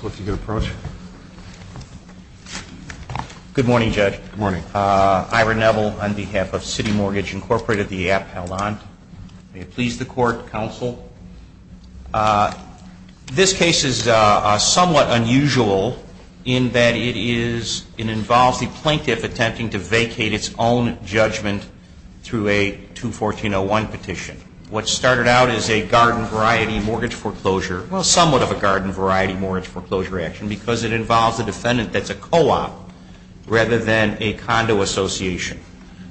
Good morning, Judge. Good morning. Ira Neville on behalf of City Mortgage Incorporated, the app held on. May it please the Court, Counsel. This case is somewhat unusual in that it involves the plaintiff attempting to vacate its own judgment through a 214-01 petition. What started out as a garden-variety mortgage foreclosure, well somewhat of a garden-variety mortgage foreclosure action because it involves a defendant that's a co-op rather than a condo association.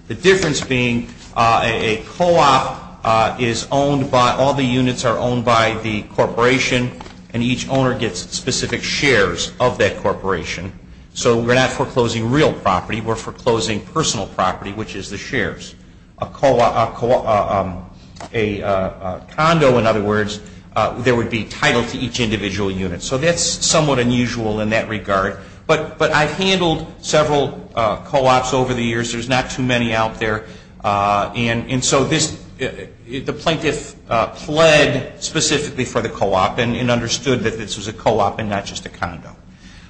The difference being a co-op is owned by, all the units are owned by the corporation and each owner gets specific shares of that corporation. So we're not foreclosing real property, we're foreclosing personal property, which is the shares. A condo, in other words, there would be title to each individual unit. So that's somewhat unusual in that regard. But I've handled several co-ops over the years. There's not too many out there. And so this, the plaintiff pled specifically for the co-op and understood that this was a co-op and not just a condo.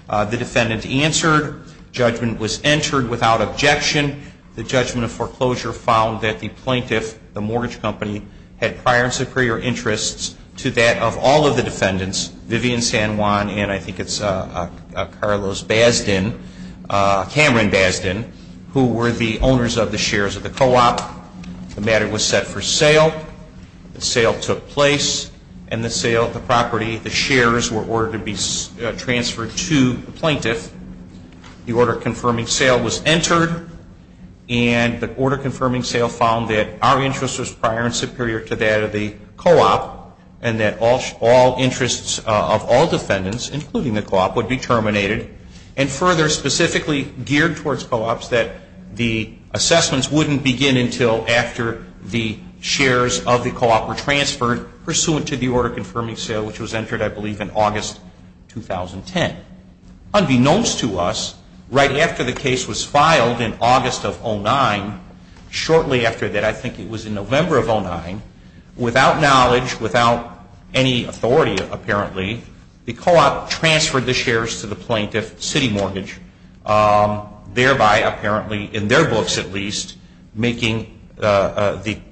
The defendant answered. Judgment was entered without objection. The judgment of foreclosure found that the plaintiff, the mortgage company, had prior and superior interests to that of all of the defendants, Vivian San Juan and I think it's Carlos Basden, Cameron Basden, who were the owners of the shares of the co-op. The matter was set for sale. The sale took place and the sale, the property, the shares were ordered to be transferred to the plaintiff. The order confirming sale was entered and the order confirming sale found that our interest was prior and superior to that of the co-op and that all interests of all defendants, including the co-op, would be terminated and further specifically geared towards co-ops that the assessments wouldn't begin until after the shares of the co-op were transferred pursuant to the order confirming sale, which was entered I believe in August 2010. Unbeknownst to us, right after the case was filed in August of 09, shortly after that, I think it was in November of 09, without knowledge, without any authority apparently, the co-op transferred the shares to the plaintiff, City Mortgage, thereby apparently in their books at least making the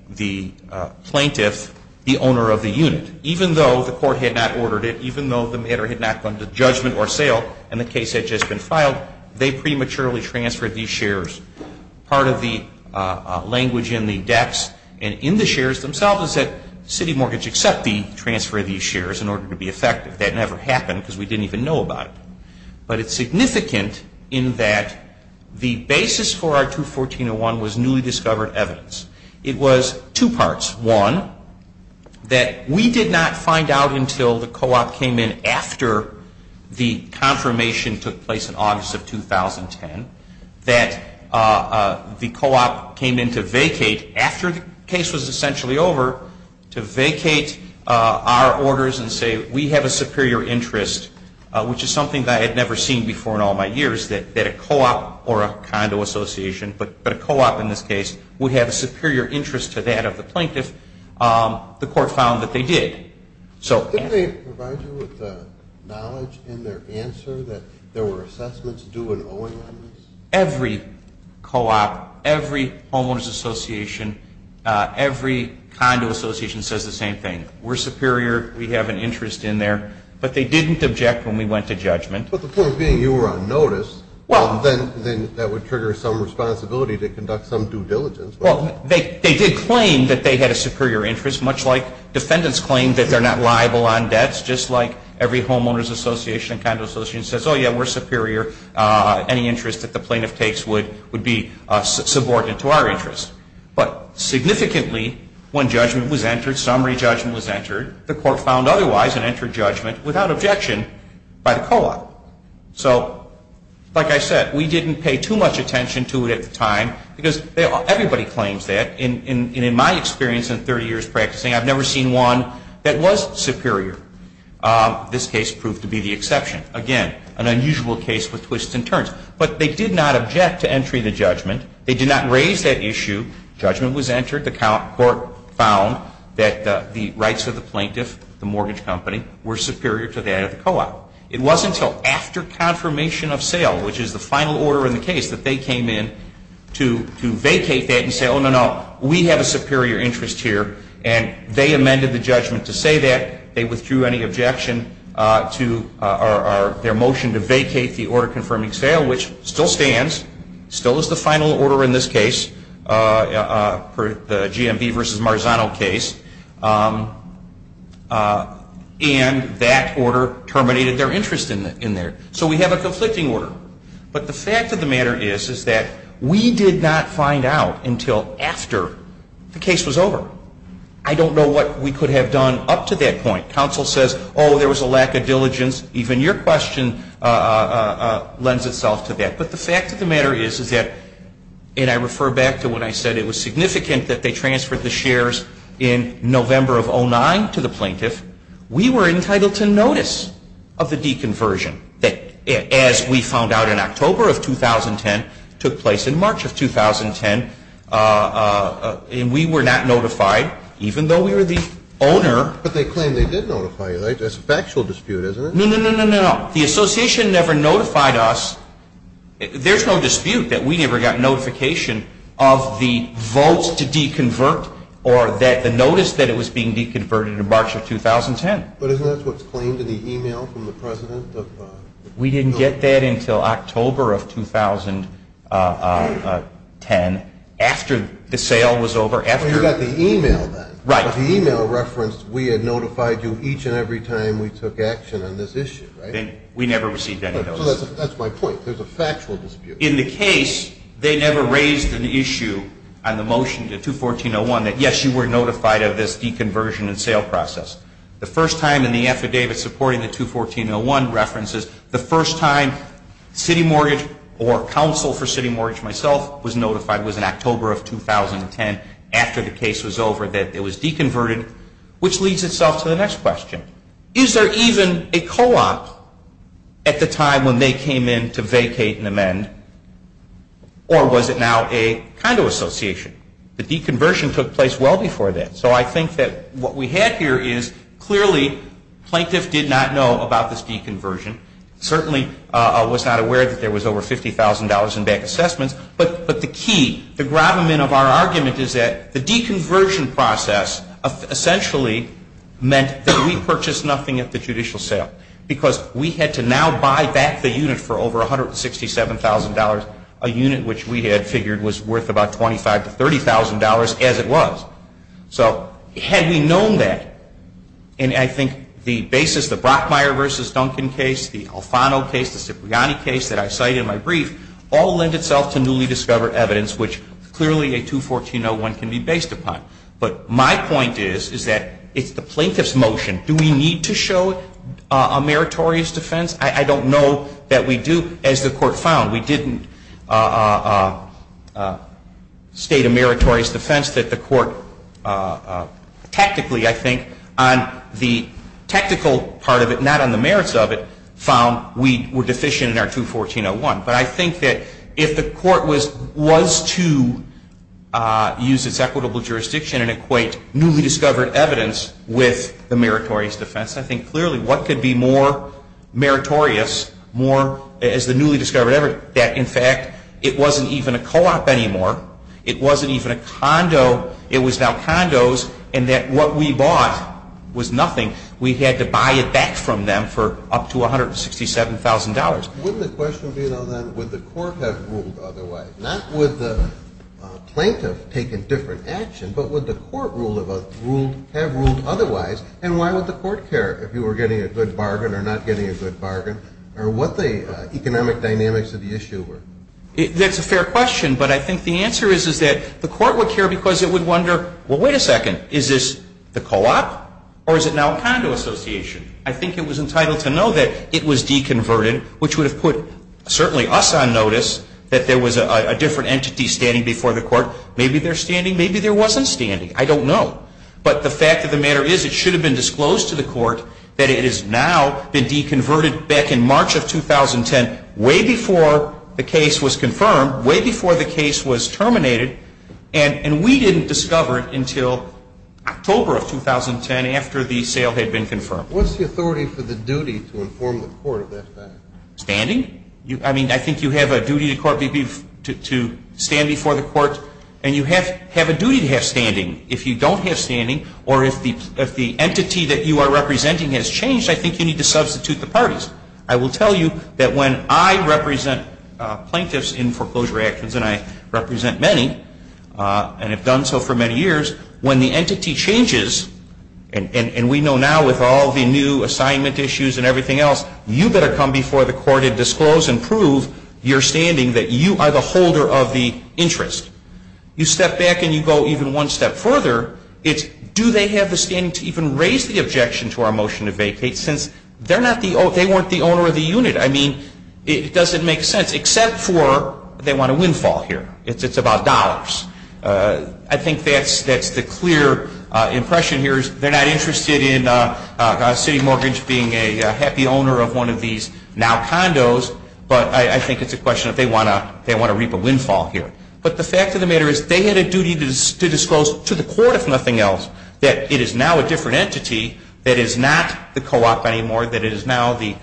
plaintiff the owner of the unit. Even though the court had not ordered it, even though the matter had not come to judgment or sale and the case had just been filed, they prematurely transferred these shares. Part of the language in the dex and in the shares themselves is that City Mortgage accept the transfer of these shares in order to be effective. That never happened because we didn't even know about it. But it's significant in that the basis for our 214.01 was newly discovered evidence. It was two parts. One, that we did not find out until the co-op came in after the confirmation took place in August of 2010 that the co-op came in to vacate after the case was essentially over to vacate our orders and say we have a superior interest, which is something that I had never seen before in all my years, that a co-op or a condo association, but a co-op in this case, would have a superior interest to that of the plaintiff. The court found that they did. Didn't they provide you with knowledge in their answer that there were assessments due in every co-op, every homeowner's association, every condo association says the same thing. We're superior. We have an interest in there. But they didn't object when we went to judgment. But the point being you were on notice. Then that would trigger some responsibility to conduct some due diligence. They did claim that they had a superior interest, much like defendants claim that they're not liable on debts, just like every homeowner's association and condo association says, oh, yeah, we're superior. Any interest that the plaintiff takes would be subordinate to our interest. But significantly when judgment was entered, summary judgment was entered, the court found otherwise and entered judgment without objection by the co-op. So like I said, we didn't pay too much attention to it at the time because everybody claims that. And in my experience in 30 years practicing, I've never seen one that was superior. This case proved to be the exception. Again, an unusual case with twists and turns. But they did not object to entry to judgment. They did not raise that issue. Judgment was entered. The court found that the rights of the plaintiff, the mortgage company, were superior to that of the co-op. It wasn't until after confirmation of sale, which is the final order in the case, that they came in to vacate that and say, oh, no, no, we have a superior interest here. And they amended the judgment to say that. They withdrew any objection to their motion to vacate the order confirming sale, which still stands, still is the final order in this case, the GMB versus Marzano case. And that order terminated their interest in there. So we have a conflicting order. But the fact of the matter is that we did not find out until after the case was over. I don't know what we could have done up to that point. Counsel says, oh, there was a lack of diligence. Even your question lends itself to that. But the fact of the matter is that and I refer back to when I said it was significant that they transferred the shares in the GMB versus Marzano case to the GMB versus Marzano case. And the fact of the matter is that they did not notify us of the deconversion that, as we found out in October of 2010, took place in March of 2010. And we were not notified, even though we were the owner. But they claim they did notify you. That's a factual dispute, isn't it? No, no, no, no, no. The association never notified us. There's no dispute that we never got notification of the votes to deconvert or that the notice that it was being deconverted in March of 2010. But isn't that what's claimed in the e-mail from the president? We didn't get that until October of 2010 after the sale was over. You got the e-mail then. Right. But the e-mail referenced we had notified you each and every time we took action on this issue, right? We never received any notice. So that's my point. There's a factual dispute. In the case, they never raised an issue on the motion to 214.01 that, yes, you were notified of this deconversion and sale process. The first time in the affidavit supporting the 214.01 references, the first time City Mortgage or counsel for City Mortgage myself was notified was in October of 2010 after the case was over that it was deconverted, which leads itself to the next question. Is there even a co-op at the time when they came in to vacate and amend, or was it now a condo association? The deconversion took place well before that. So I think that what we had here is clearly plaintiffs did not know about this deconversion. Certainly was not aware that there was over $50,000 in bank assessments. But the key, the gravamen of our argument is that the deconversion process essentially meant that we purchased nothing at the judicial sale because we had to now buy back the unit for over $167,000, a unit which we had figured was worth about $25,000 to $30,000 as it was. So had we known that, and I think the basis, the Brockmeyer v. Duncan case, the Alfano case, the Cipriani case that I cite in my brief, all lend itself to newly discovered evidence, which clearly a 214.01 can be based upon. But my point is, is that it's the plaintiff's motion. Do we need to show a meritorious defense? I don't know that we do. As the Court found, we didn't state a meritorious defense that the Court tactically, I think, on the tactical part of it, not on the merits of it, found we were deficient in our 214.01. But I think that if the Court was to use its equitable jurisdiction and equate newly discovered evidence with the meritorious defense, I think clearly what could be more meritorious, more, as the newly discovered evidence, would be that it wasn't even a co-op anymore. It wasn't even a condo. It was now condos, and that what we bought was nothing. We had to buy it back from them for up to $167,000. Wouldn't the question be, though, then, would the Court have ruled otherwise? Not would the plaintiff take a different action, but would the Court have ruled otherwise? And why would the Court care if you were getting a good bargain or not getting a good bargain, or what the economic dynamics of the issue were? That's a fair question, but I think the answer is, is that the Court would care because it would wonder, well, wait a second, is this the co-op, or is it now a condo association? I think it was entitled to know that it was deconverted, which would have put certainly us on notice that there was a different entity standing before the Court. Maybe they're standing. Maybe there wasn't standing. I don't know. But the fact of the matter is, it should have been disclosed to the Court that it has now been deconverted back in March of 2010, way before the case was confirmed, way before the case was terminated, and we didn't discover it until October of 2010 after the sale had been confirmed. What's the authority for the duty to inform the Court of that fact? Standing? I mean, I think you have a duty to stand before the Court, and you have a duty to have standing. If you don't have standing, or if the entity that you are representing has changed, I think you need to substitute the parties. I will tell you that when I represent plaintiffs in foreclosure actions, and I represent many, and have done so for many years, when the entity changes, and we know now with all the new assignment issues and everything else, you better come before the Court and disclose and prove your standing that you are the holder of the interest. You step back and you go even one step further, it's do they have the standing to even raise the objection to our motion to vacate since they weren't the owner of the unit. I mean, it doesn't make sense except for they want a windfall here. It's about dollars. I think that's the clear impression here is they're not interested in a city mortgage being a happy owner of one of these now condos, but I think it's a question that they want to reap a windfall here. But the fact of the matter is they had a duty to disclose to the Court, if nothing else, that it is now a different entity that is not the co-op anymore, that it is now the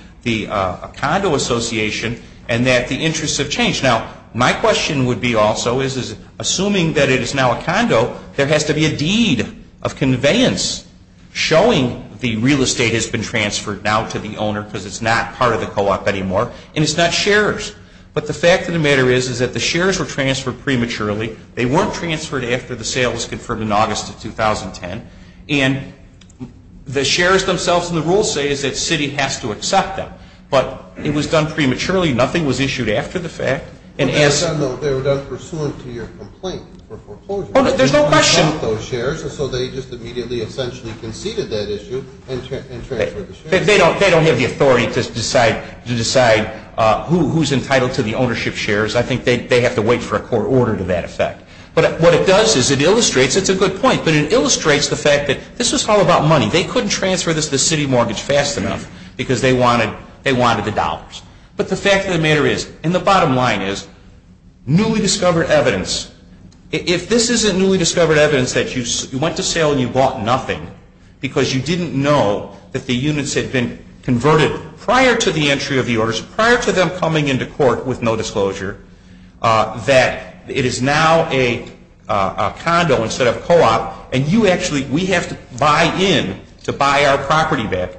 condo association, and that the interests have changed. Now, my question would be also is assuming that it is now a condo, there has to be a deed of conveyance showing the real estate has been transferred now to the owner because it's not part of the co-op anymore, and it's not shares. But the fact of the matter is that the shares were transferred prematurely. They weren't transferred after the sale was confirmed in August of 2010, and the shares themselves and the rules say that the city has to accept them. But it was done prematurely. Nothing was issued after the fact. They were done pursuant to your complaint for foreclosure. There's no question. They don't have the authority to decide who is entitled to the ownership shares. I think they have to wait for a court order to that effect. But what it does is it illustrates, it's a good point, but it illustrates the fact that this was all about money. They couldn't transfer this to the city mortgage fast enough because they wanted the dollars. But the fact of the matter is, and the bottom line is, newly discovered evidence. If this isn't newly discovered evidence that you went to sale and you bought nothing because you didn't know that the units had been converted prior to the entry of the orders, prior to them coming into court with no disclosure, that it is now a condo instead of co-op, and you actually, we have to buy in to buy our property back.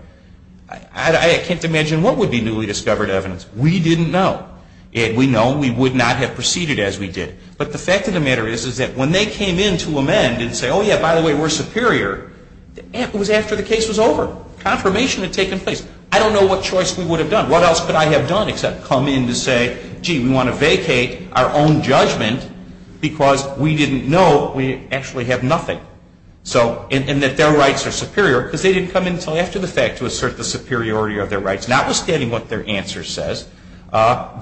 I can't imagine what would be newly discovered evidence. We didn't know. We know we would not have proceeded as we did. But the fact of the matter is, is that when they came in to amend and say, oh, yeah, by the way, we're superior, it was after the case was over. Confirmation had taken place. I don't know what choice we would have done. What else could I have done except come in to say, gee, we want to vacate our own judgment because we didn't know we actually have nothing. And that their rights are superior because they didn't come in until after the fact to assert the superiority of their rights, notwithstanding what their answer says.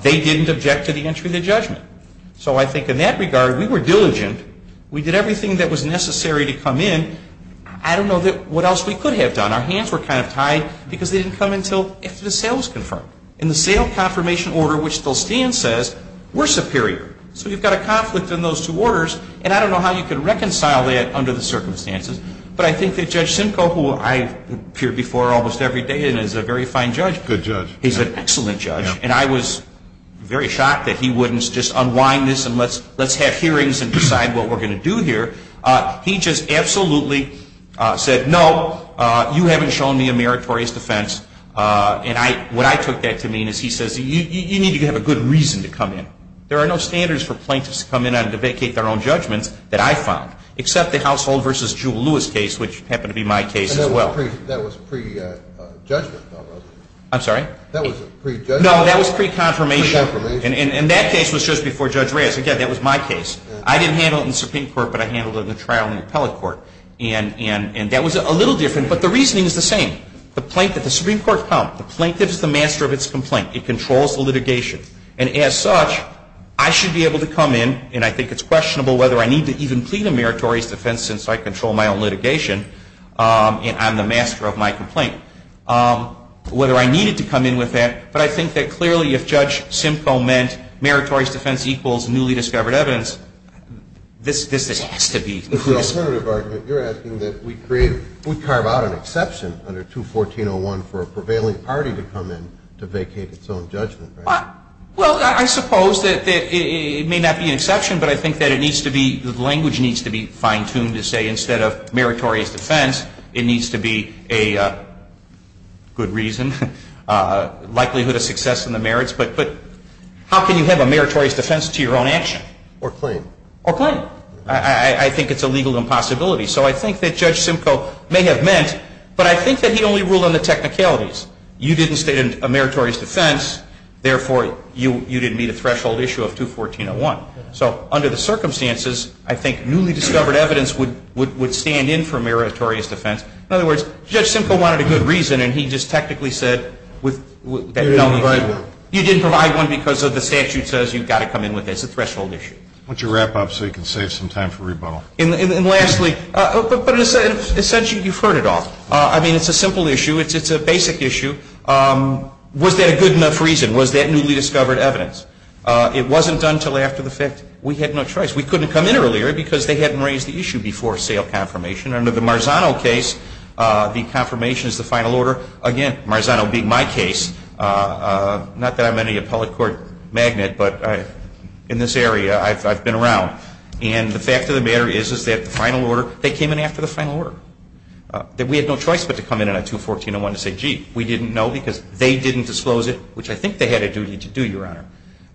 They didn't object to the entry of the judgment. So I think in that regard, we were diligent. We did everything that was necessary to come in. I don't know what else we could have done. Our hands were kind of tied because they didn't come until after the sale was confirmed. And the sale confirmation order, which still stands, says we're superior. So you've got a conflict in those two orders, and I don't know how you can reconcile that under the circumstances. But I think that Judge Reyes, when he came in to decide what we're going to do here, he just absolutely said, no, you haven't shown me a meritorious defense. And what I took that to mean is he says, you need to have a good reason to come in. There are no standards for plaintiffs to come in on to vacate their own judgments that I found, except the Household v. Jewel Lewis case, which happened to be my case as well. That was pre-judgment, though, wasn't it? I'm sorry? That was pre-judgment. No, that was pre-confirmation. Pre-confirmation. And that case was just before Judge Reyes. Again, that was my case. I didn't handle it in the Supreme Court, but I handled it in the trial in the appellate court. And that was a little different, but the reasoning is the same. The Supreme Court comes. The plaintiff is the master of its complaint. It controls the litigation. And as such, I should be able to come in, and I think it's questionable whether I need to even plead a meritorious defense since I control my own litigation, and I'm the master of my complaint, whether I needed to come in with that. But I think that clearly if Judge Simcoe meant meritorious defense equals newly discovered evidence, this has to be the case. The alternative argument, you're asking that we carve out an exception under 214.01 for a prevailing party to come in to vacate its own judgment, right? Well, I suppose that it may not be an exception, but I think that it needs to be fine-tuned to say instead of meritorious defense, it needs to be a good reason, likelihood of success in the merits. But how can you have a meritorious defense to your own action? Or claim. Or claim. I think it's a legal impossibility. So I think that Judge Simcoe may have meant, but I think that he only ruled on the technicalities. You didn't state a meritorious defense, therefore you didn't meet a threshold issue of 214.01. So under the circumstances, I think newly discovered evidence would stand in for meritorious defense. In other words, Judge Simcoe wanted a good reason and he just technically said with that. You didn't provide one. You didn't provide one because the statute says you've got to come in with it. It's a threshold issue. Why don't you wrap up so you can save some time for rebuttal. And lastly, but essentially you've heard it all. I mean, it's a simple issue. It's a basic issue. Was that a good enough reason? Was that newly discovered evidence? It wasn't until after the fact we had no choice. We couldn't come in earlier because they hadn't raised the issue before sale confirmation. Under the Marzano case, the confirmation is the final order. Again, Marzano being my case, not that I'm any appellate court magnate, but in this area I've been around. And the fact of the matter is, is that the final order, they came in after the final order. That we had no choice but to come in on 214.01 to say, gee, we didn't know because they didn't disclose it, which I think they had a duty to do, Your Honor.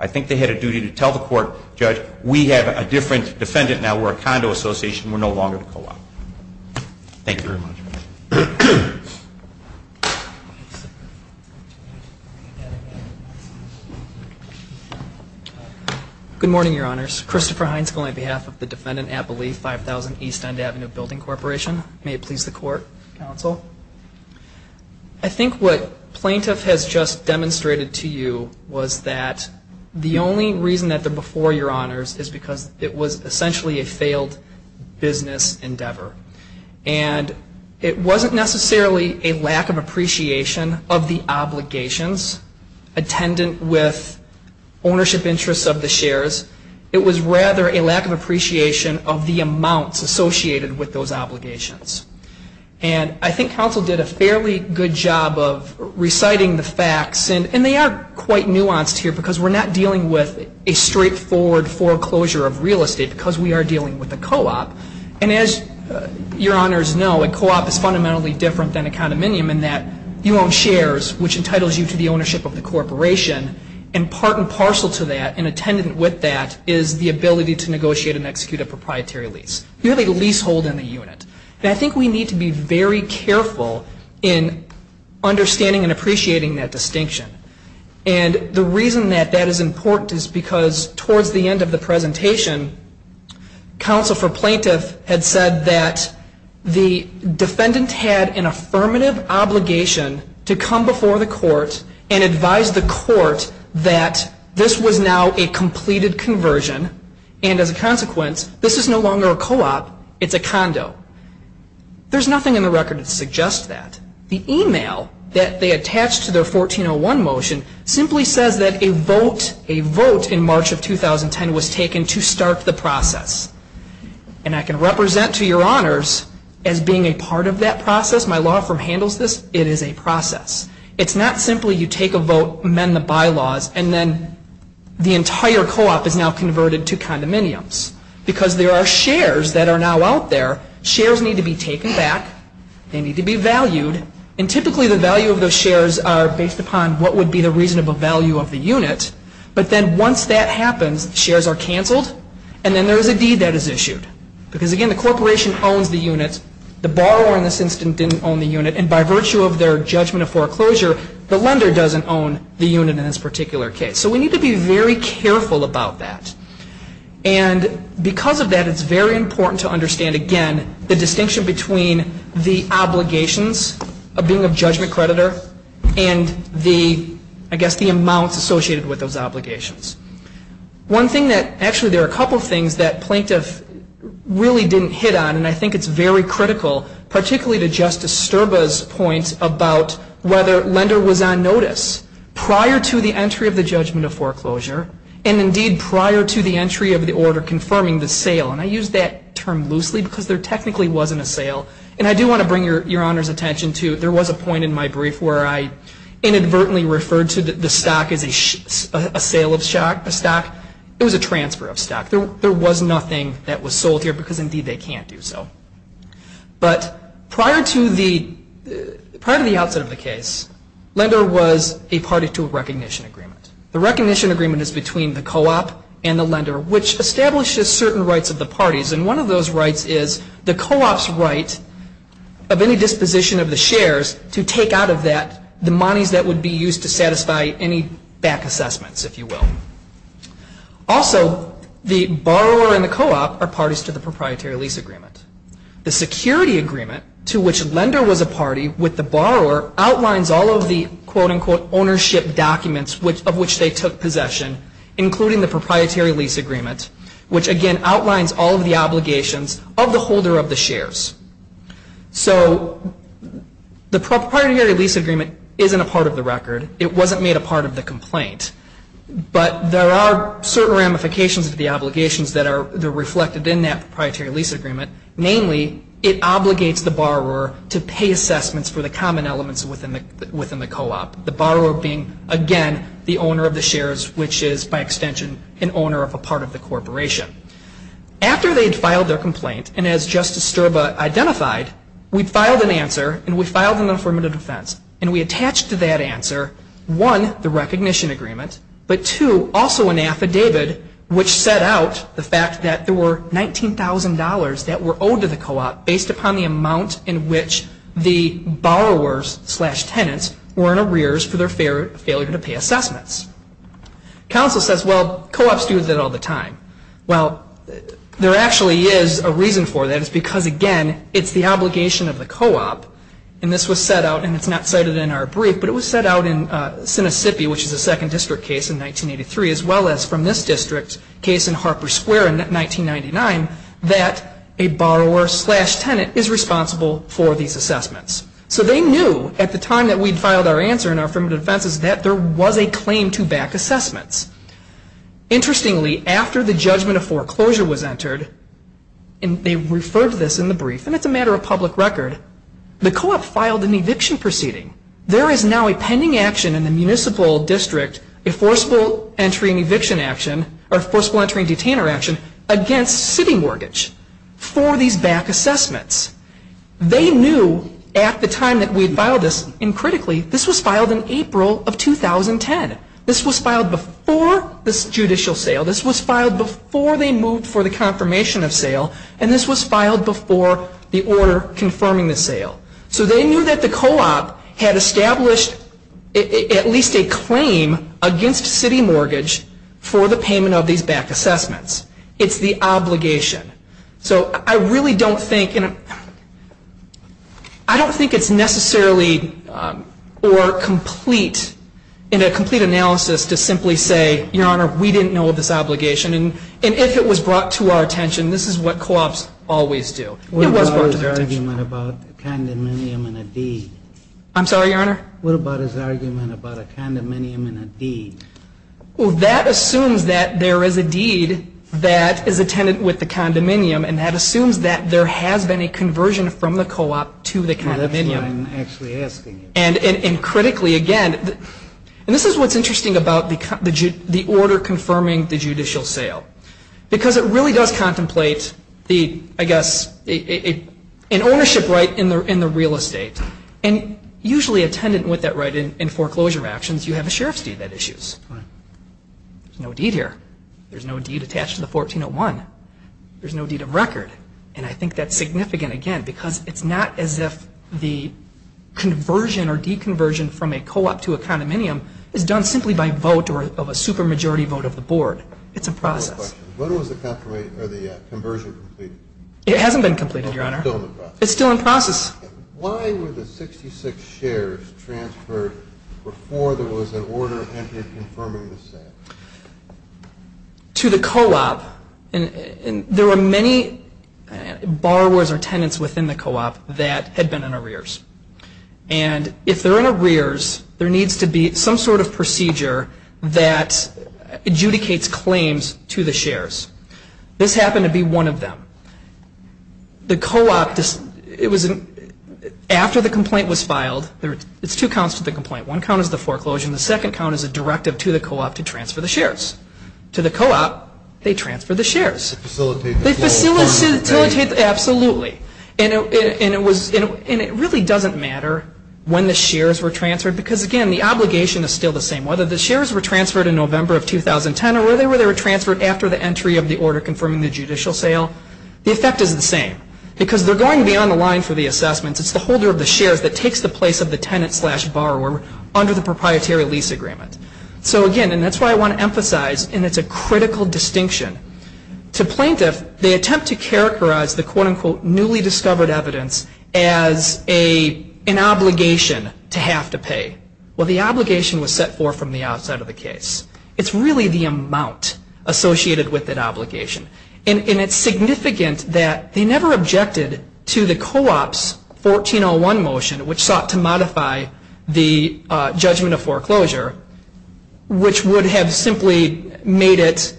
I think they had a duty to tell the court, judge, we have a different defendant now. We're a condo association. We're no longer the co-op. Thank you very much. Good morning, Your Honors. Christopher Hines on behalf of the defendant Appalee 5000 East End Avenue Building Corporation. May it please the court, counsel. I think what plaintiff has just demonstrated to you was that the only reason that they're before Your Honors is because it was essentially a failed business endeavor. And it wasn't necessarily a lack of appreciation of the obligations attendant with ownership interests of the shares. It was rather a lack of appreciation of the amounts associated with those obligations. And I think counsel did a fairly good job of reciting the facts. And they are quite nuanced here because we're not dealing with a straightforward foreclosure of real estate because we are dealing with a co-op. And as Your Honors know, a co-op is fundamentally different than a condominium in that you own shares, which entitles you to the ownership of the corporation. And part and parcel to that and attendant with that is the ability to negotiate and I think we need to be very careful in understanding and appreciating that distinction. And the reason that that is important is because towards the end of the presentation, counsel for plaintiff had said that the defendant had an affirmative obligation to come before the court and advise the court that this was now a completed conversion and as a consequence, this is no longer a co-op, it's a condo. There's nothing in the record that suggests that. The email that they attached to their 1401 motion simply says that a vote in March of 2010 was taken to start the process. And I can represent to Your Honors as being a part of that process, my law firm handles this, it is a process. It's not simply you take a vote, amend the bylaws and then the entire co-op is now converted to now out there. Shares need to be taken back, they need to be valued and typically the value of those shares are based upon what would be the reasonable value of the unit. But then once that happens, shares are canceled and then there is a deed that is issued. Because again, the corporation owns the unit, the borrower in this instance didn't own the unit and by virtue of their judgment of foreclosure, the lender doesn't own the unit in this particular case. So we need to be very careful about that. And because of that, it's very important to understand again, the distinction between the obligations of being a judgment creditor and the, I guess the amounts associated with those obligations. One thing that, actually there are a couple things that plaintiff really didn't hit on and I think it's very critical, particularly to Justice Sterba's point about whether lender was on notice prior to the entry of the judgment of foreclosure and indeed prior to the entry of the order confirming the sale. And I use that term loosely because there technically wasn't a sale and I do want to bring your Honor's attention to, there was a point in my brief where I inadvertently referred to the stock as a sale of stock. It was a transfer of stock. There was nothing that was sold here because indeed they can't do so. But prior to the, prior to the outset of the case, lender was a party to a recognition agreement. The recognition agreement is between the certain rights of the parties and one of those rights is the co-op's right of any disposition of the shares to take out of that the monies that would be used to satisfy any back assessments, if you will. Also, the borrower and the co-op are parties to the proprietary lease agreement. The security agreement to which lender was a party with the borrower outlines all of the quote unquote which again outlines all of the obligations of the holder of the shares. So the proprietary lease agreement isn't a part of the record. It wasn't made a part of the complaint. But there are certain ramifications of the obligations that are reflected in that proprietary lease agreement. Namely, it obligates the borrower to pay assessments for the common elements within the co-op. The corporation. After they had filed their complaint and as Justice Sturba identified, we filed an answer and we filed an affirmative defense and we attached to that answer, one, the recognition agreement, but two, also an affidavit which set out the fact that there were $19,000 that were owed to the co-op based upon the amount in which the borrowers slash tenants were in arrears for their failure to pay assessments. Counsel says, well, co-ops do that all the time. Well, there actually is a reason for that. It's because again, it's the obligation of the co-op and this was set out, and it's not cited in our brief, but it was set out in Sinisippi, which is a second district case in 1983 as well as from this district case in Harper Square in 1999 that a borrower slash tenant is responsible for these assessments. So they knew at the time that we'd filed our answer and our affirmative defense is that there was a claim to back assessments. Interestingly, after the judgment of foreclosure was entered, and they referred to this in the brief, and it's a matter of public record, the co-op filed an eviction proceeding. There is now a pending action in the municipal district, a forcible entry and eviction action or forcible entry and detainer action against city mortgage for these back assessments. They knew at the time that we'd filed this, and critically, this was filed in April of 2010. This was filed before the judicial sale. This was filed before they moved for the confirmation of sale, and this was filed before the order confirming the sale. So they knew that the co-op had established at least a claim against city mortgage for the payment of these back assessments. It's the obligation. So I really don't think, I don't think it's necessarily or complete in a complete analysis to simply say, Your Honor, we didn't know of this obligation. And if it was brought to our attention, this is what co-ops always do. It was brought to our attention. What about his argument about a condominium and a deed? I'm sorry, Your Honor? What about his argument about a condominium and a deed? Well, that assumes that there is a deed that is a tenant with the condominium and that assumes that there has been a conversion from the co-op to the condominium. Well, that's what I'm actually asking you. And critically, again, and this is what's interesting about the order confirming the judicial sale, because it really does contemplate the, I guess, an ownership right in the real estate. And usually a tenant with that right in foreclosure actions, you have a sheriff's deed that issues. Right. There's no deed here. There's no deed attached to the 1401. There's no deed of record. And I think that's significant, again, because it's not as if the conversion or deconversion from a co-op to a condominium is done simply by vote or of a supermajority vote of the board. It's a process. What was the conversion completed? It hasn't been completed, Your Honor. It's still in the process. It's still in process. Why were the 66 shares transferred before there was an order entered confirming the sale? To the co-op. And there were many borrowers or tenants within the co-op that had been in arrears. And if they're in arrears, there needs to be some sort of procedure that adjudicates claims to the shares. This happened to be one of them. The co-op, after the complaint was filed, it's two counts to the complaint. One count is the foreclosure and the second count is a directive to the co-op to transfer the shares. To the co-op, they transfer the shares. They facilitate the foreclosure, right? Absolutely. And it really doesn't matter when the shares were transferred because, again, the obligation is still the same. Whether the shares were transferred in November of 2010 or whether they were transferred after the entry of the order confirming the judicial sale, the effect is the same because they're going to be on the line for the assessments. It's the holder of the shares that takes the place of the tenant slash borrower under the proprietary lease agreement. So, again, and that's why I want to emphasize, and it's a critical distinction, to plaintiff, they attempt to characterize the quote-unquote newly discovered evidence as an obligation to have to pay. Well, the obligation was set forth from the outset of the case. It's really the amount associated with that obligation. And it's significant that they never objected to the co-op's 1401 motion, which sought to modify the judgment of foreclosure, which would have simply made it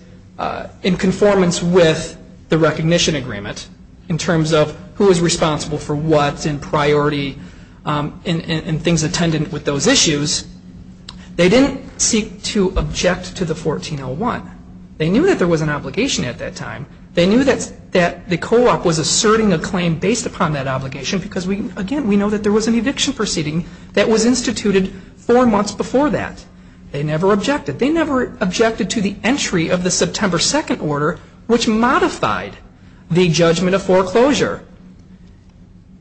in conformance with the recognition agreement in terms of who is responsible for what and priority and things attendant with those issues. They didn't seek to object to the 1401. They knew that there was an obligation at that time. They knew that the co-op was asserting a claim based upon that obligation because, again, we know that there was an eviction proceeding that was instituted four months before that. They never objected. They never objected to the entry of the September 2nd order, which modified the judgment of foreclosure.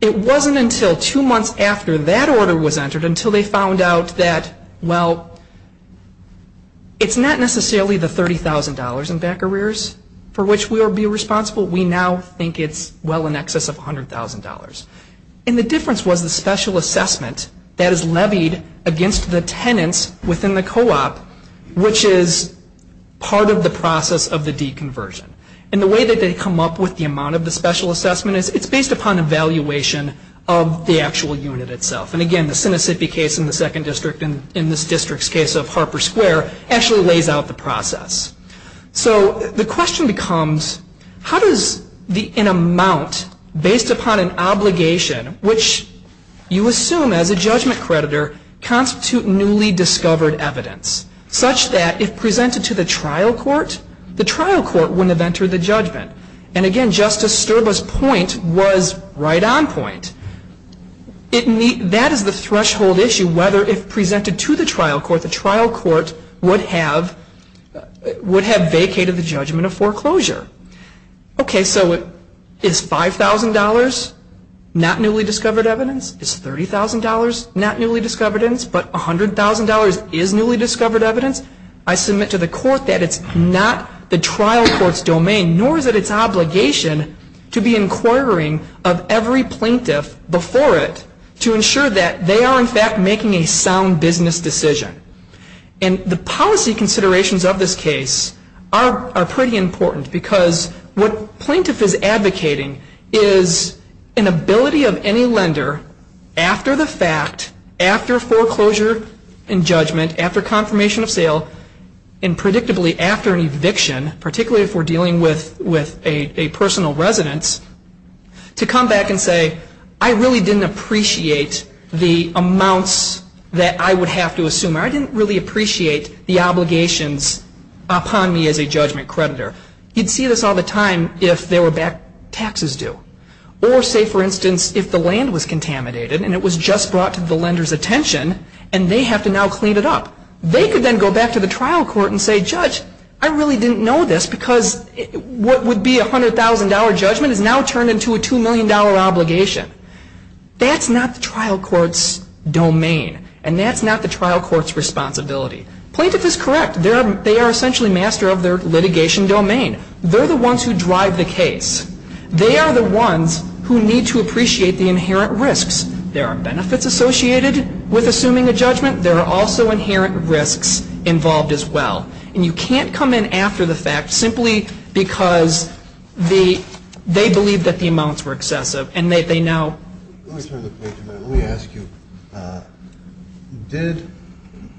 It wasn't until two months after that order was entered until they found out that, well, it's not necessarily the $30,000 in back arrears for which we would be responsible. We now think it's well in excess of $100,000. And the difference was the special assessment that is levied against the tenants within the co-op, which is part of the process of the deconversion. And the way that they come up with the amount of the special assessment is it's based upon evaluation of the actual unit itself. And, again, the Sinisippi case in the second district and in this district's case of Harper Square actually lays out the process. So the question becomes how does an amount based upon an obligation, which you assume as a judgment creditor constitute newly discovered evidence such that if presented to the trial court, the trial court wouldn't have entered the judgment? And, again, Justice Sterba's point was right on point. That is the threshold issue whether if presented to the trial court, the trial court would have vacated the judgment of foreclosure. Okay, so is $5,000 not newly discovered evidence? Is $30,000 not newly discovered evidence? But $100,000 is newly discovered evidence? I submit to the court that it's not the trial court's domain, nor is it its obligation to be inquiring of every plaintiff before it to ensure that they are, in fact, making a sound business decision. And the policy considerations of this case are pretty important because what plaintiff is advocating is an ability of any lender after the fact, after foreclosure and judgment, after confirmation of sale, and predictably after an eviction, particularly if we're dealing with a personal residence, to come back and say, I really didn't appreciate the amounts that I would have to assume. I didn't really appreciate the obligations upon me as a judgment creditor. You'd see this all the time if there were back taxes due. Or, say, for instance, if the land was contaminated and it was just brought to the lender's attention and they have to now clean it up, they could then go back to the trial court and say, Judge, I really didn't know this because what would be a $100,000 judgment has now turned into a $2 million obligation. That's not the trial court's domain. And that's not the trial court's responsibility. Plaintiff is correct. They are essentially master of their litigation domain. They're the ones who drive the case. They are the ones who need to appreciate the inherent risks. There are benefits associated with assuming a judgment. There are also inherent risks involved as well. And you can't come in after the fact simply because they believe that the amounts were excessive. Let me ask you, did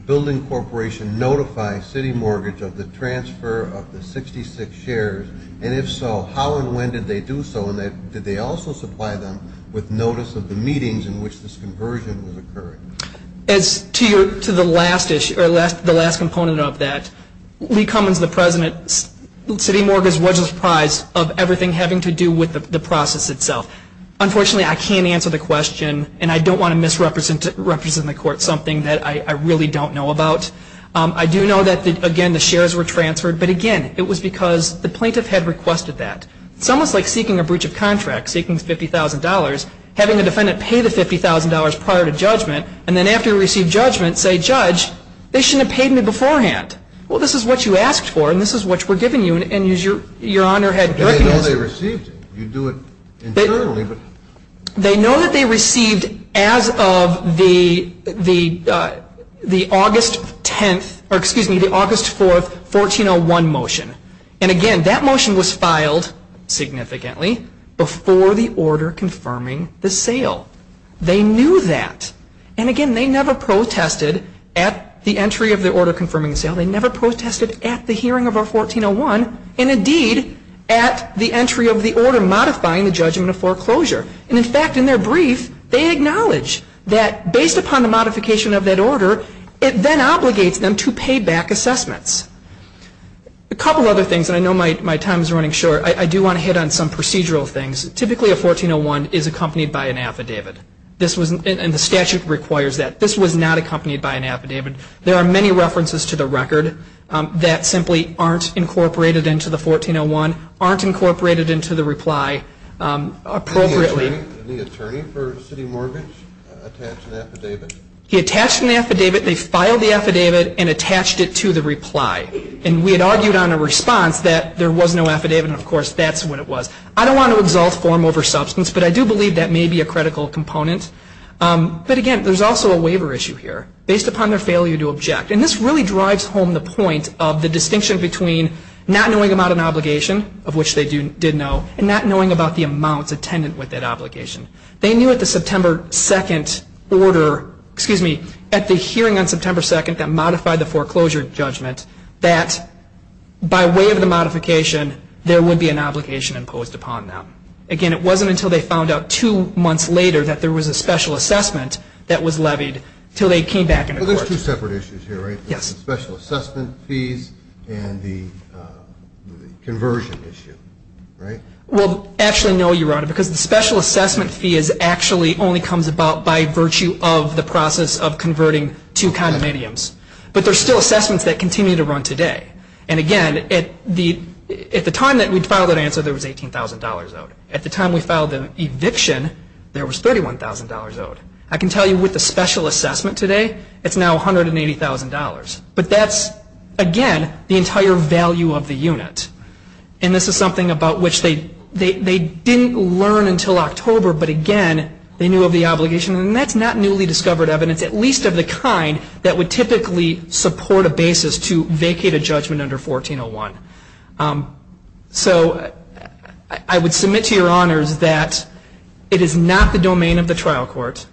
Building Corporation notify City Mortgage of the transfer of the 66 shares? And if so, how and when did they do so? And did they also supply them with notice of the meetings in which this conversion was occurring? As to the last component of that, Lee Cummins, the president, City Mortgage was surprised of everything having to do with the process itself. Unfortunately, I can't answer the question, and I don't want to misrepresent the court something that I really don't know about. I do know that, again, the shares were transferred. But, again, it was because the plaintiff had requested that. It's almost like seeking a breach of contract. Seeking $50,000, having a defendant pay the $50,000 prior to judgment, and then after you receive judgment say, Judge, they shouldn't have paid me beforehand. Well, this is what you asked for, and this is what we're giving you, and you're on your head. They know they received it. You do it internally. They know that they received as of the August 10th, or excuse me, the August 4th, 1401 motion. And, again, that motion was filed significantly before the order confirming the sale. They knew that. And, again, they never protested at the entry of the order confirming the sale. They never protested at the hearing of our 1401 and, indeed, at the entry of the order modifying the judgment of foreclosure. And, in fact, in their brief, they acknowledge that based upon the modification of that order, it then obligates them to pay back assessments. A couple of other things, and I know my time is running short. I do want to hit on some procedural things. Typically a 1401 is accompanied by an affidavit, and the statute requires that. This was not accompanied by an affidavit. There are many references to the record that simply aren't incorporated into the 1401, aren't incorporated into the reply appropriately. Did the attorney for city mortgage attach an affidavit? He attached an affidavit. They filed the affidavit and attached it to the reply. And we had argued on a response that there was no affidavit, and, of course, that's what it was. I don't want to exalt form over substance, but I do believe that may be a critical component. But, again, there's also a waiver issue here based upon their failure to object. And this really drives home the point of the distinction between not knowing about an obligation, of which they did know, and not knowing about the amounts attendant with that obligation. They knew at the September 2nd order, excuse me, at the hearing on September 2nd that modified the foreclosure judgment that by way of the modification there would be an obligation imposed upon them. Again, it wasn't until they found out two months later that there was a special assessment that was levied until they came back into court. Well, there's two separate issues here, right? Yes. The special assessment fees and the conversion issue, right? Well, actually, no, Your Honor, because the special assessment fee actually only comes about by virtue of the process of converting to condominiums. But there's still assessments that continue to run today. And, again, at the time that we filed that answer, there was $18,000 owed. At the time we filed the eviction, there was $31,000 owed. I can tell you with the special assessment today, it's now $180,000. But that's, again, the entire value of the unit. And this is something about which they didn't learn until October. But, again, they knew of the obligation. And that's not newly discovered evidence, at least of the kind that would typically support a basis to vacate a judgment under 1401. So I would submit to Your Honors that it is not the domain of the trial court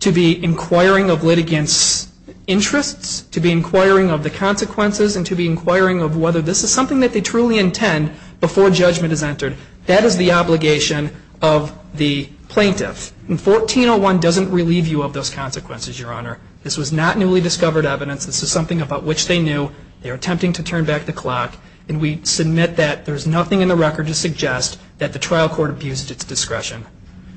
to be inquiring of litigants' interests, to be inquiring of the consequences, and to be inquiring of whether this is something that they truly intend before judgment is entered. That is the obligation of the plaintiff. And 1401 doesn't relieve you of those consequences, Your Honor. This was not newly discovered evidence. This is something about which they knew. They were attempting to turn back the clock. And we submit that there is nothing in the record to suggest that the trial court abused its discretion.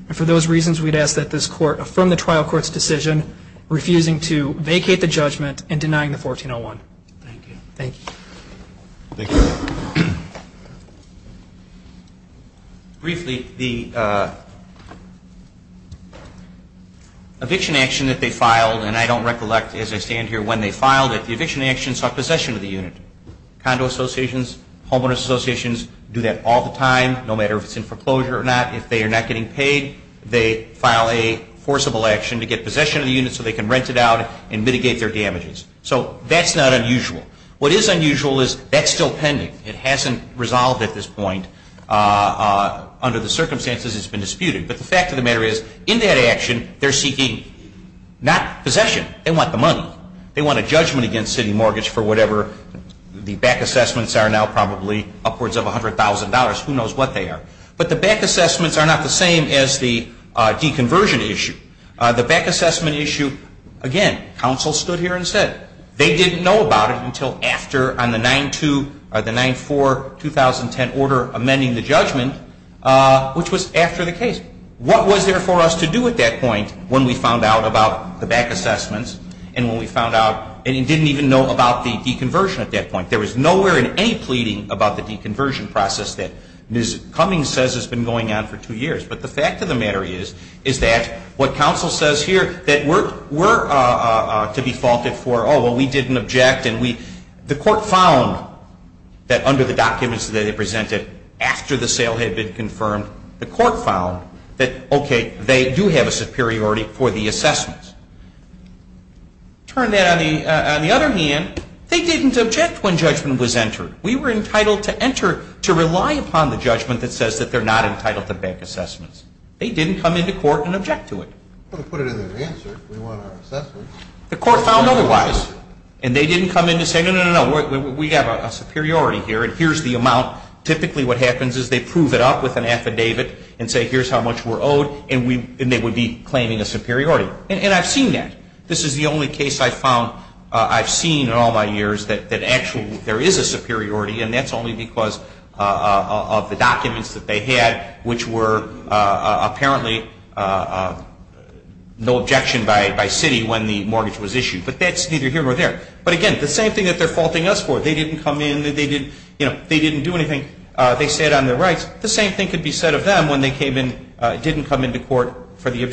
And for those reasons, we'd ask that this court affirm the trial court's decision, refusing to vacate the judgment and denying the 1401. Thank you. Thank you. Thank you. Briefly, the eviction action that they filed, and I don't recollect as I stand here when they filed it, the eviction actions are possession of the unit. Condo associations, homeowners associations do that all the time, no matter if it's in foreclosure or not. If they are not getting paid, they file a forcible action to get possession of the unit so they can rent it out and mitigate their damages. So that's not unusual. What is unusual is that's still pending. It hasn't resolved at this point. Under the circumstances, it's been disputed. But the fact of the matter is, in that action, they're seeking not possession. They want the money. They want a judgment against city mortgage for whatever the back assessments are now probably upwards of $100,000. Who knows what they are. But the back assessments are not the same as the deconversion issue. The back assessment issue, again, counsel stood here and said they didn't know about it until after on the 94-2010 order amending the judgment, which was after the case. What was there for us to do at that point when we found out about the back assessments and when we found out and didn't even know about the deconversion at that point? There was nowhere in any pleading about the deconversion process that Ms. Cummings says has been going on for two years. But the fact of the matter is that what counsel says here that we're to be faulted for, oh, well, we didn't object. The court found that under the documents that they presented after the sale had been confirmed, the court found that, okay, they do have a superiority for the assessments. Turn that on the other hand, they didn't object when judgment was entered. We were entitled to enter to rely upon the judgment that says that they're not entitled to back assessments. They didn't come into court and object to it. Well, to put it in their answer, we want our assessments. The court found otherwise. And they didn't come in to say, no, no, no, we have a superiority here and here's the amount. Typically what happens is they prove it up with an affidavit and say here's how much we're owed and they would be claiming a superiority. And I've seen that. This is the only case I've seen in all my years that actually there is a superiority and that's only because of the documents that they had, which were apparently no objection by city when the mortgage was issued. But that's neither here nor there. But, again, the same thing that they're faulting us for. They didn't come in. They didn't do anything. They sat on their rights. The same thing could be said of them when they came in, for the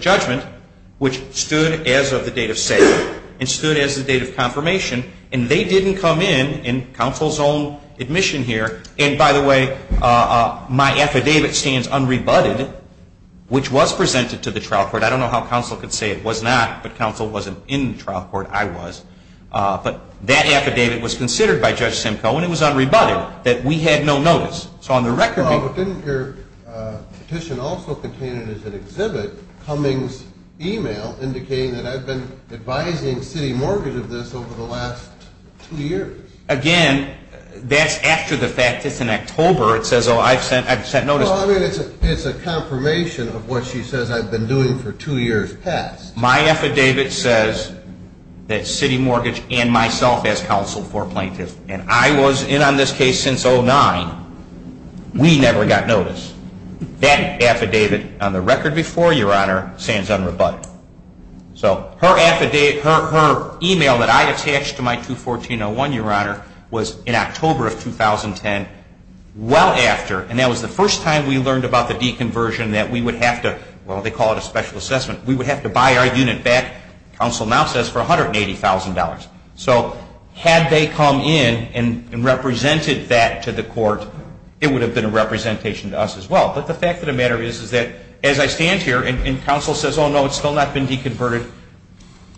judgment, which stood as of the date of sale and stood as the date of confirmation. And they didn't come in in counsel's own admission here. And, by the way, my affidavit stands unrebutted, which was presented to the trial court. I don't know how counsel could say it was not, but counsel wasn't in the trial court. I was. But that affidavit was considered by Judge Simcoe and it was unrebutted, that we had no notice. Well, but didn't your petition also contain it as an exhibit, Cummings' email indicating that I've been advising city mortgage of this over the last two years? Again, that's after the fact. It's in October. It says, oh, I've sent notice. Well, I mean, it's a confirmation of what she says I've been doing for two years past. My affidavit says that city mortgage and myself as counsel for plaintiffs, and I was in on this case since 2009, we never got notice. That affidavit on the record before, Your Honor, stands unrebutted. So her email that I attached to my 214-01, Your Honor, was in October of 2010, well after, and that was the first time we learned about the deconversion that we would have to, well, they call it a special assessment, we would have to buy our unit back, counsel now says, for $180,000. So had they come in and represented that to the court, it would have been a representation to us as well. But the fact of the matter is that as I stand here and counsel says, oh, no, it's still not been deconverted,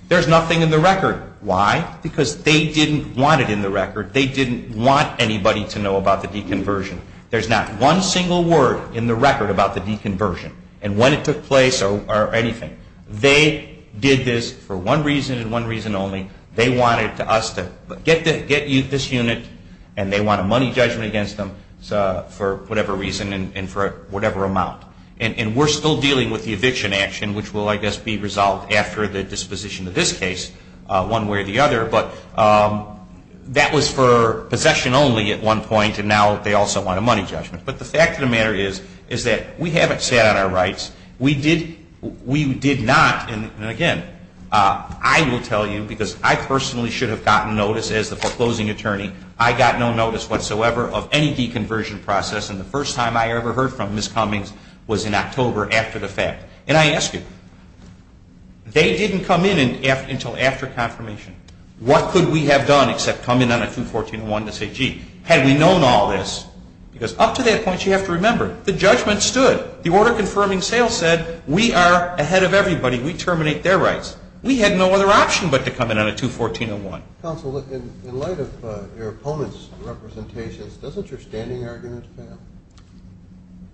there's nothing in the record. Why? Because they didn't want it in the record. They didn't want anybody to know about the deconversion. There's not one single word in the record about the deconversion and when it took place or anything. They did this for one reason and one reason only. They wanted us to get this unit and they want a money judgment against them for whatever reason and for whatever amount. And we're still dealing with the eviction action, which will, I guess, be resolved after the disposition of this case, one way or the other, but that was for possession only at one point and now they also want a money judgment. But the fact of the matter is that we haven't sat on our rights. We did not, and again, I will tell you, because I personally should have gotten notice as the foreclosing attorney, I got no notice whatsoever of any deconversion process and the first time I ever heard from Ms. Cummings was in October after the fact. And I ask you, they didn't come in until after confirmation. What could we have done except come in on a 214.1 to say, gee, had we known all this? Because up to that point, you have to remember, the judgment stood. The order confirming sale said we are ahead of everybody. We terminate their rights. We had no other option but to come in on a 214.1. Counsel, in light of your opponent's representations, doesn't your standing argument fail?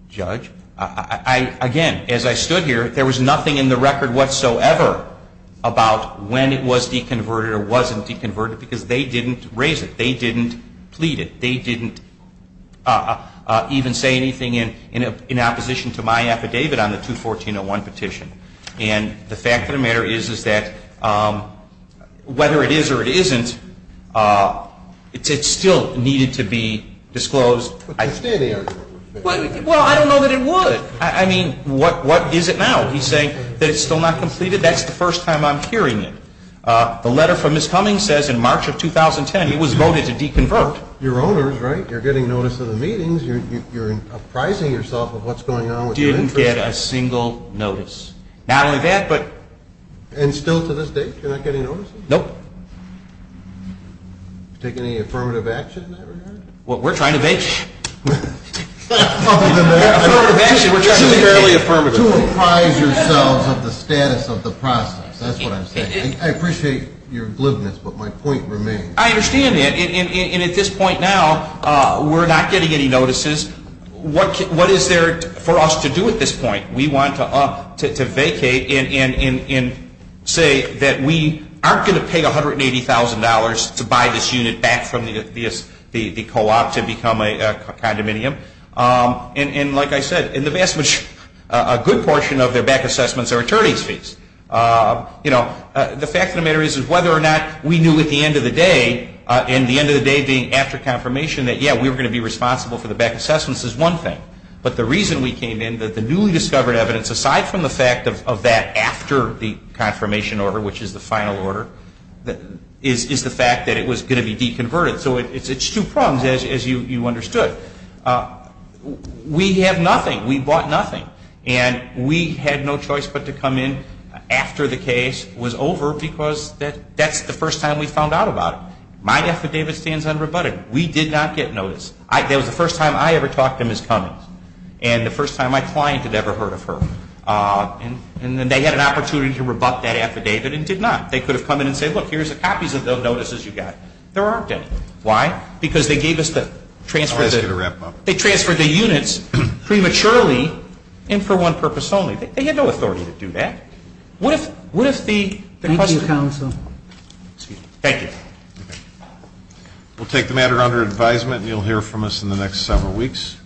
Judge, again, as I stood here, there was nothing in the record whatsoever about when it was deconverted or wasn't deconverted because they didn't raise it. They didn't plead it. They didn't even say anything in opposition to my affidavit on the 214.1 petition. And the fact of the matter is that whether it is or it isn't, it still needed to be disclosed. But your standing argument. Well, I don't know that it would. I mean, what is it now? He's saying that it's still not completed. That's the first time I'm hearing it. The letter from Ms. Cummings says in March of 2010 it was voted to deconvert. You're owners, right? You're getting notice of the meetings. You're apprising yourself of what's going on with your interest. Didn't get a single notice. Not only that, but... And still to this date you're not getting notices? Nope. Have you taken any affirmative action in that regard? Well, we're trying to make... Other than that... Affirmative action, we're trying to make fairly affirmative. To apprise yourselves of the status of the process. That's what I'm saying. I appreciate your glibness, but my point remains. I understand that. And at this point now, we're not getting any notices. What is there for us to do at this point? We want to vacate and say that we aren't going to pay $180,000 to buy this unit back from the co-op to become a condominium. And like I said, a good portion of their back assessments are attorney's fees. The fact of the matter is, whether or not we knew at the end of the day, and the end of the day being after confirmation, that, yeah, we were going to be responsible for the back assessments is one thing. But the reason we came in, that the newly discovered evidence, aside from the fact of that after the confirmation order, which is the final order, is the fact that it was going to be deconverted. So it's two prongs, as you understood. We have nothing. We bought nothing. And we had no choice but to come in after the case was over because that's the first time we found out about it. My affidavit stands unrebutted. We did not get notice. That was the first time I ever talked to Ms. Cummings. And the first time my client had ever heard of her. And they had an opportunity to rebut that affidavit and did not. They could have come in and said, look, here's the copies of those notices you got. There aren't any. Why? Because they gave us the transfer of the units prematurely. And for one purpose only. They had no authority to do that. What if the question was... Thank you, counsel. Excuse me. Thank you. We'll take the matter under advisement and you'll hear from us in the next several weeks.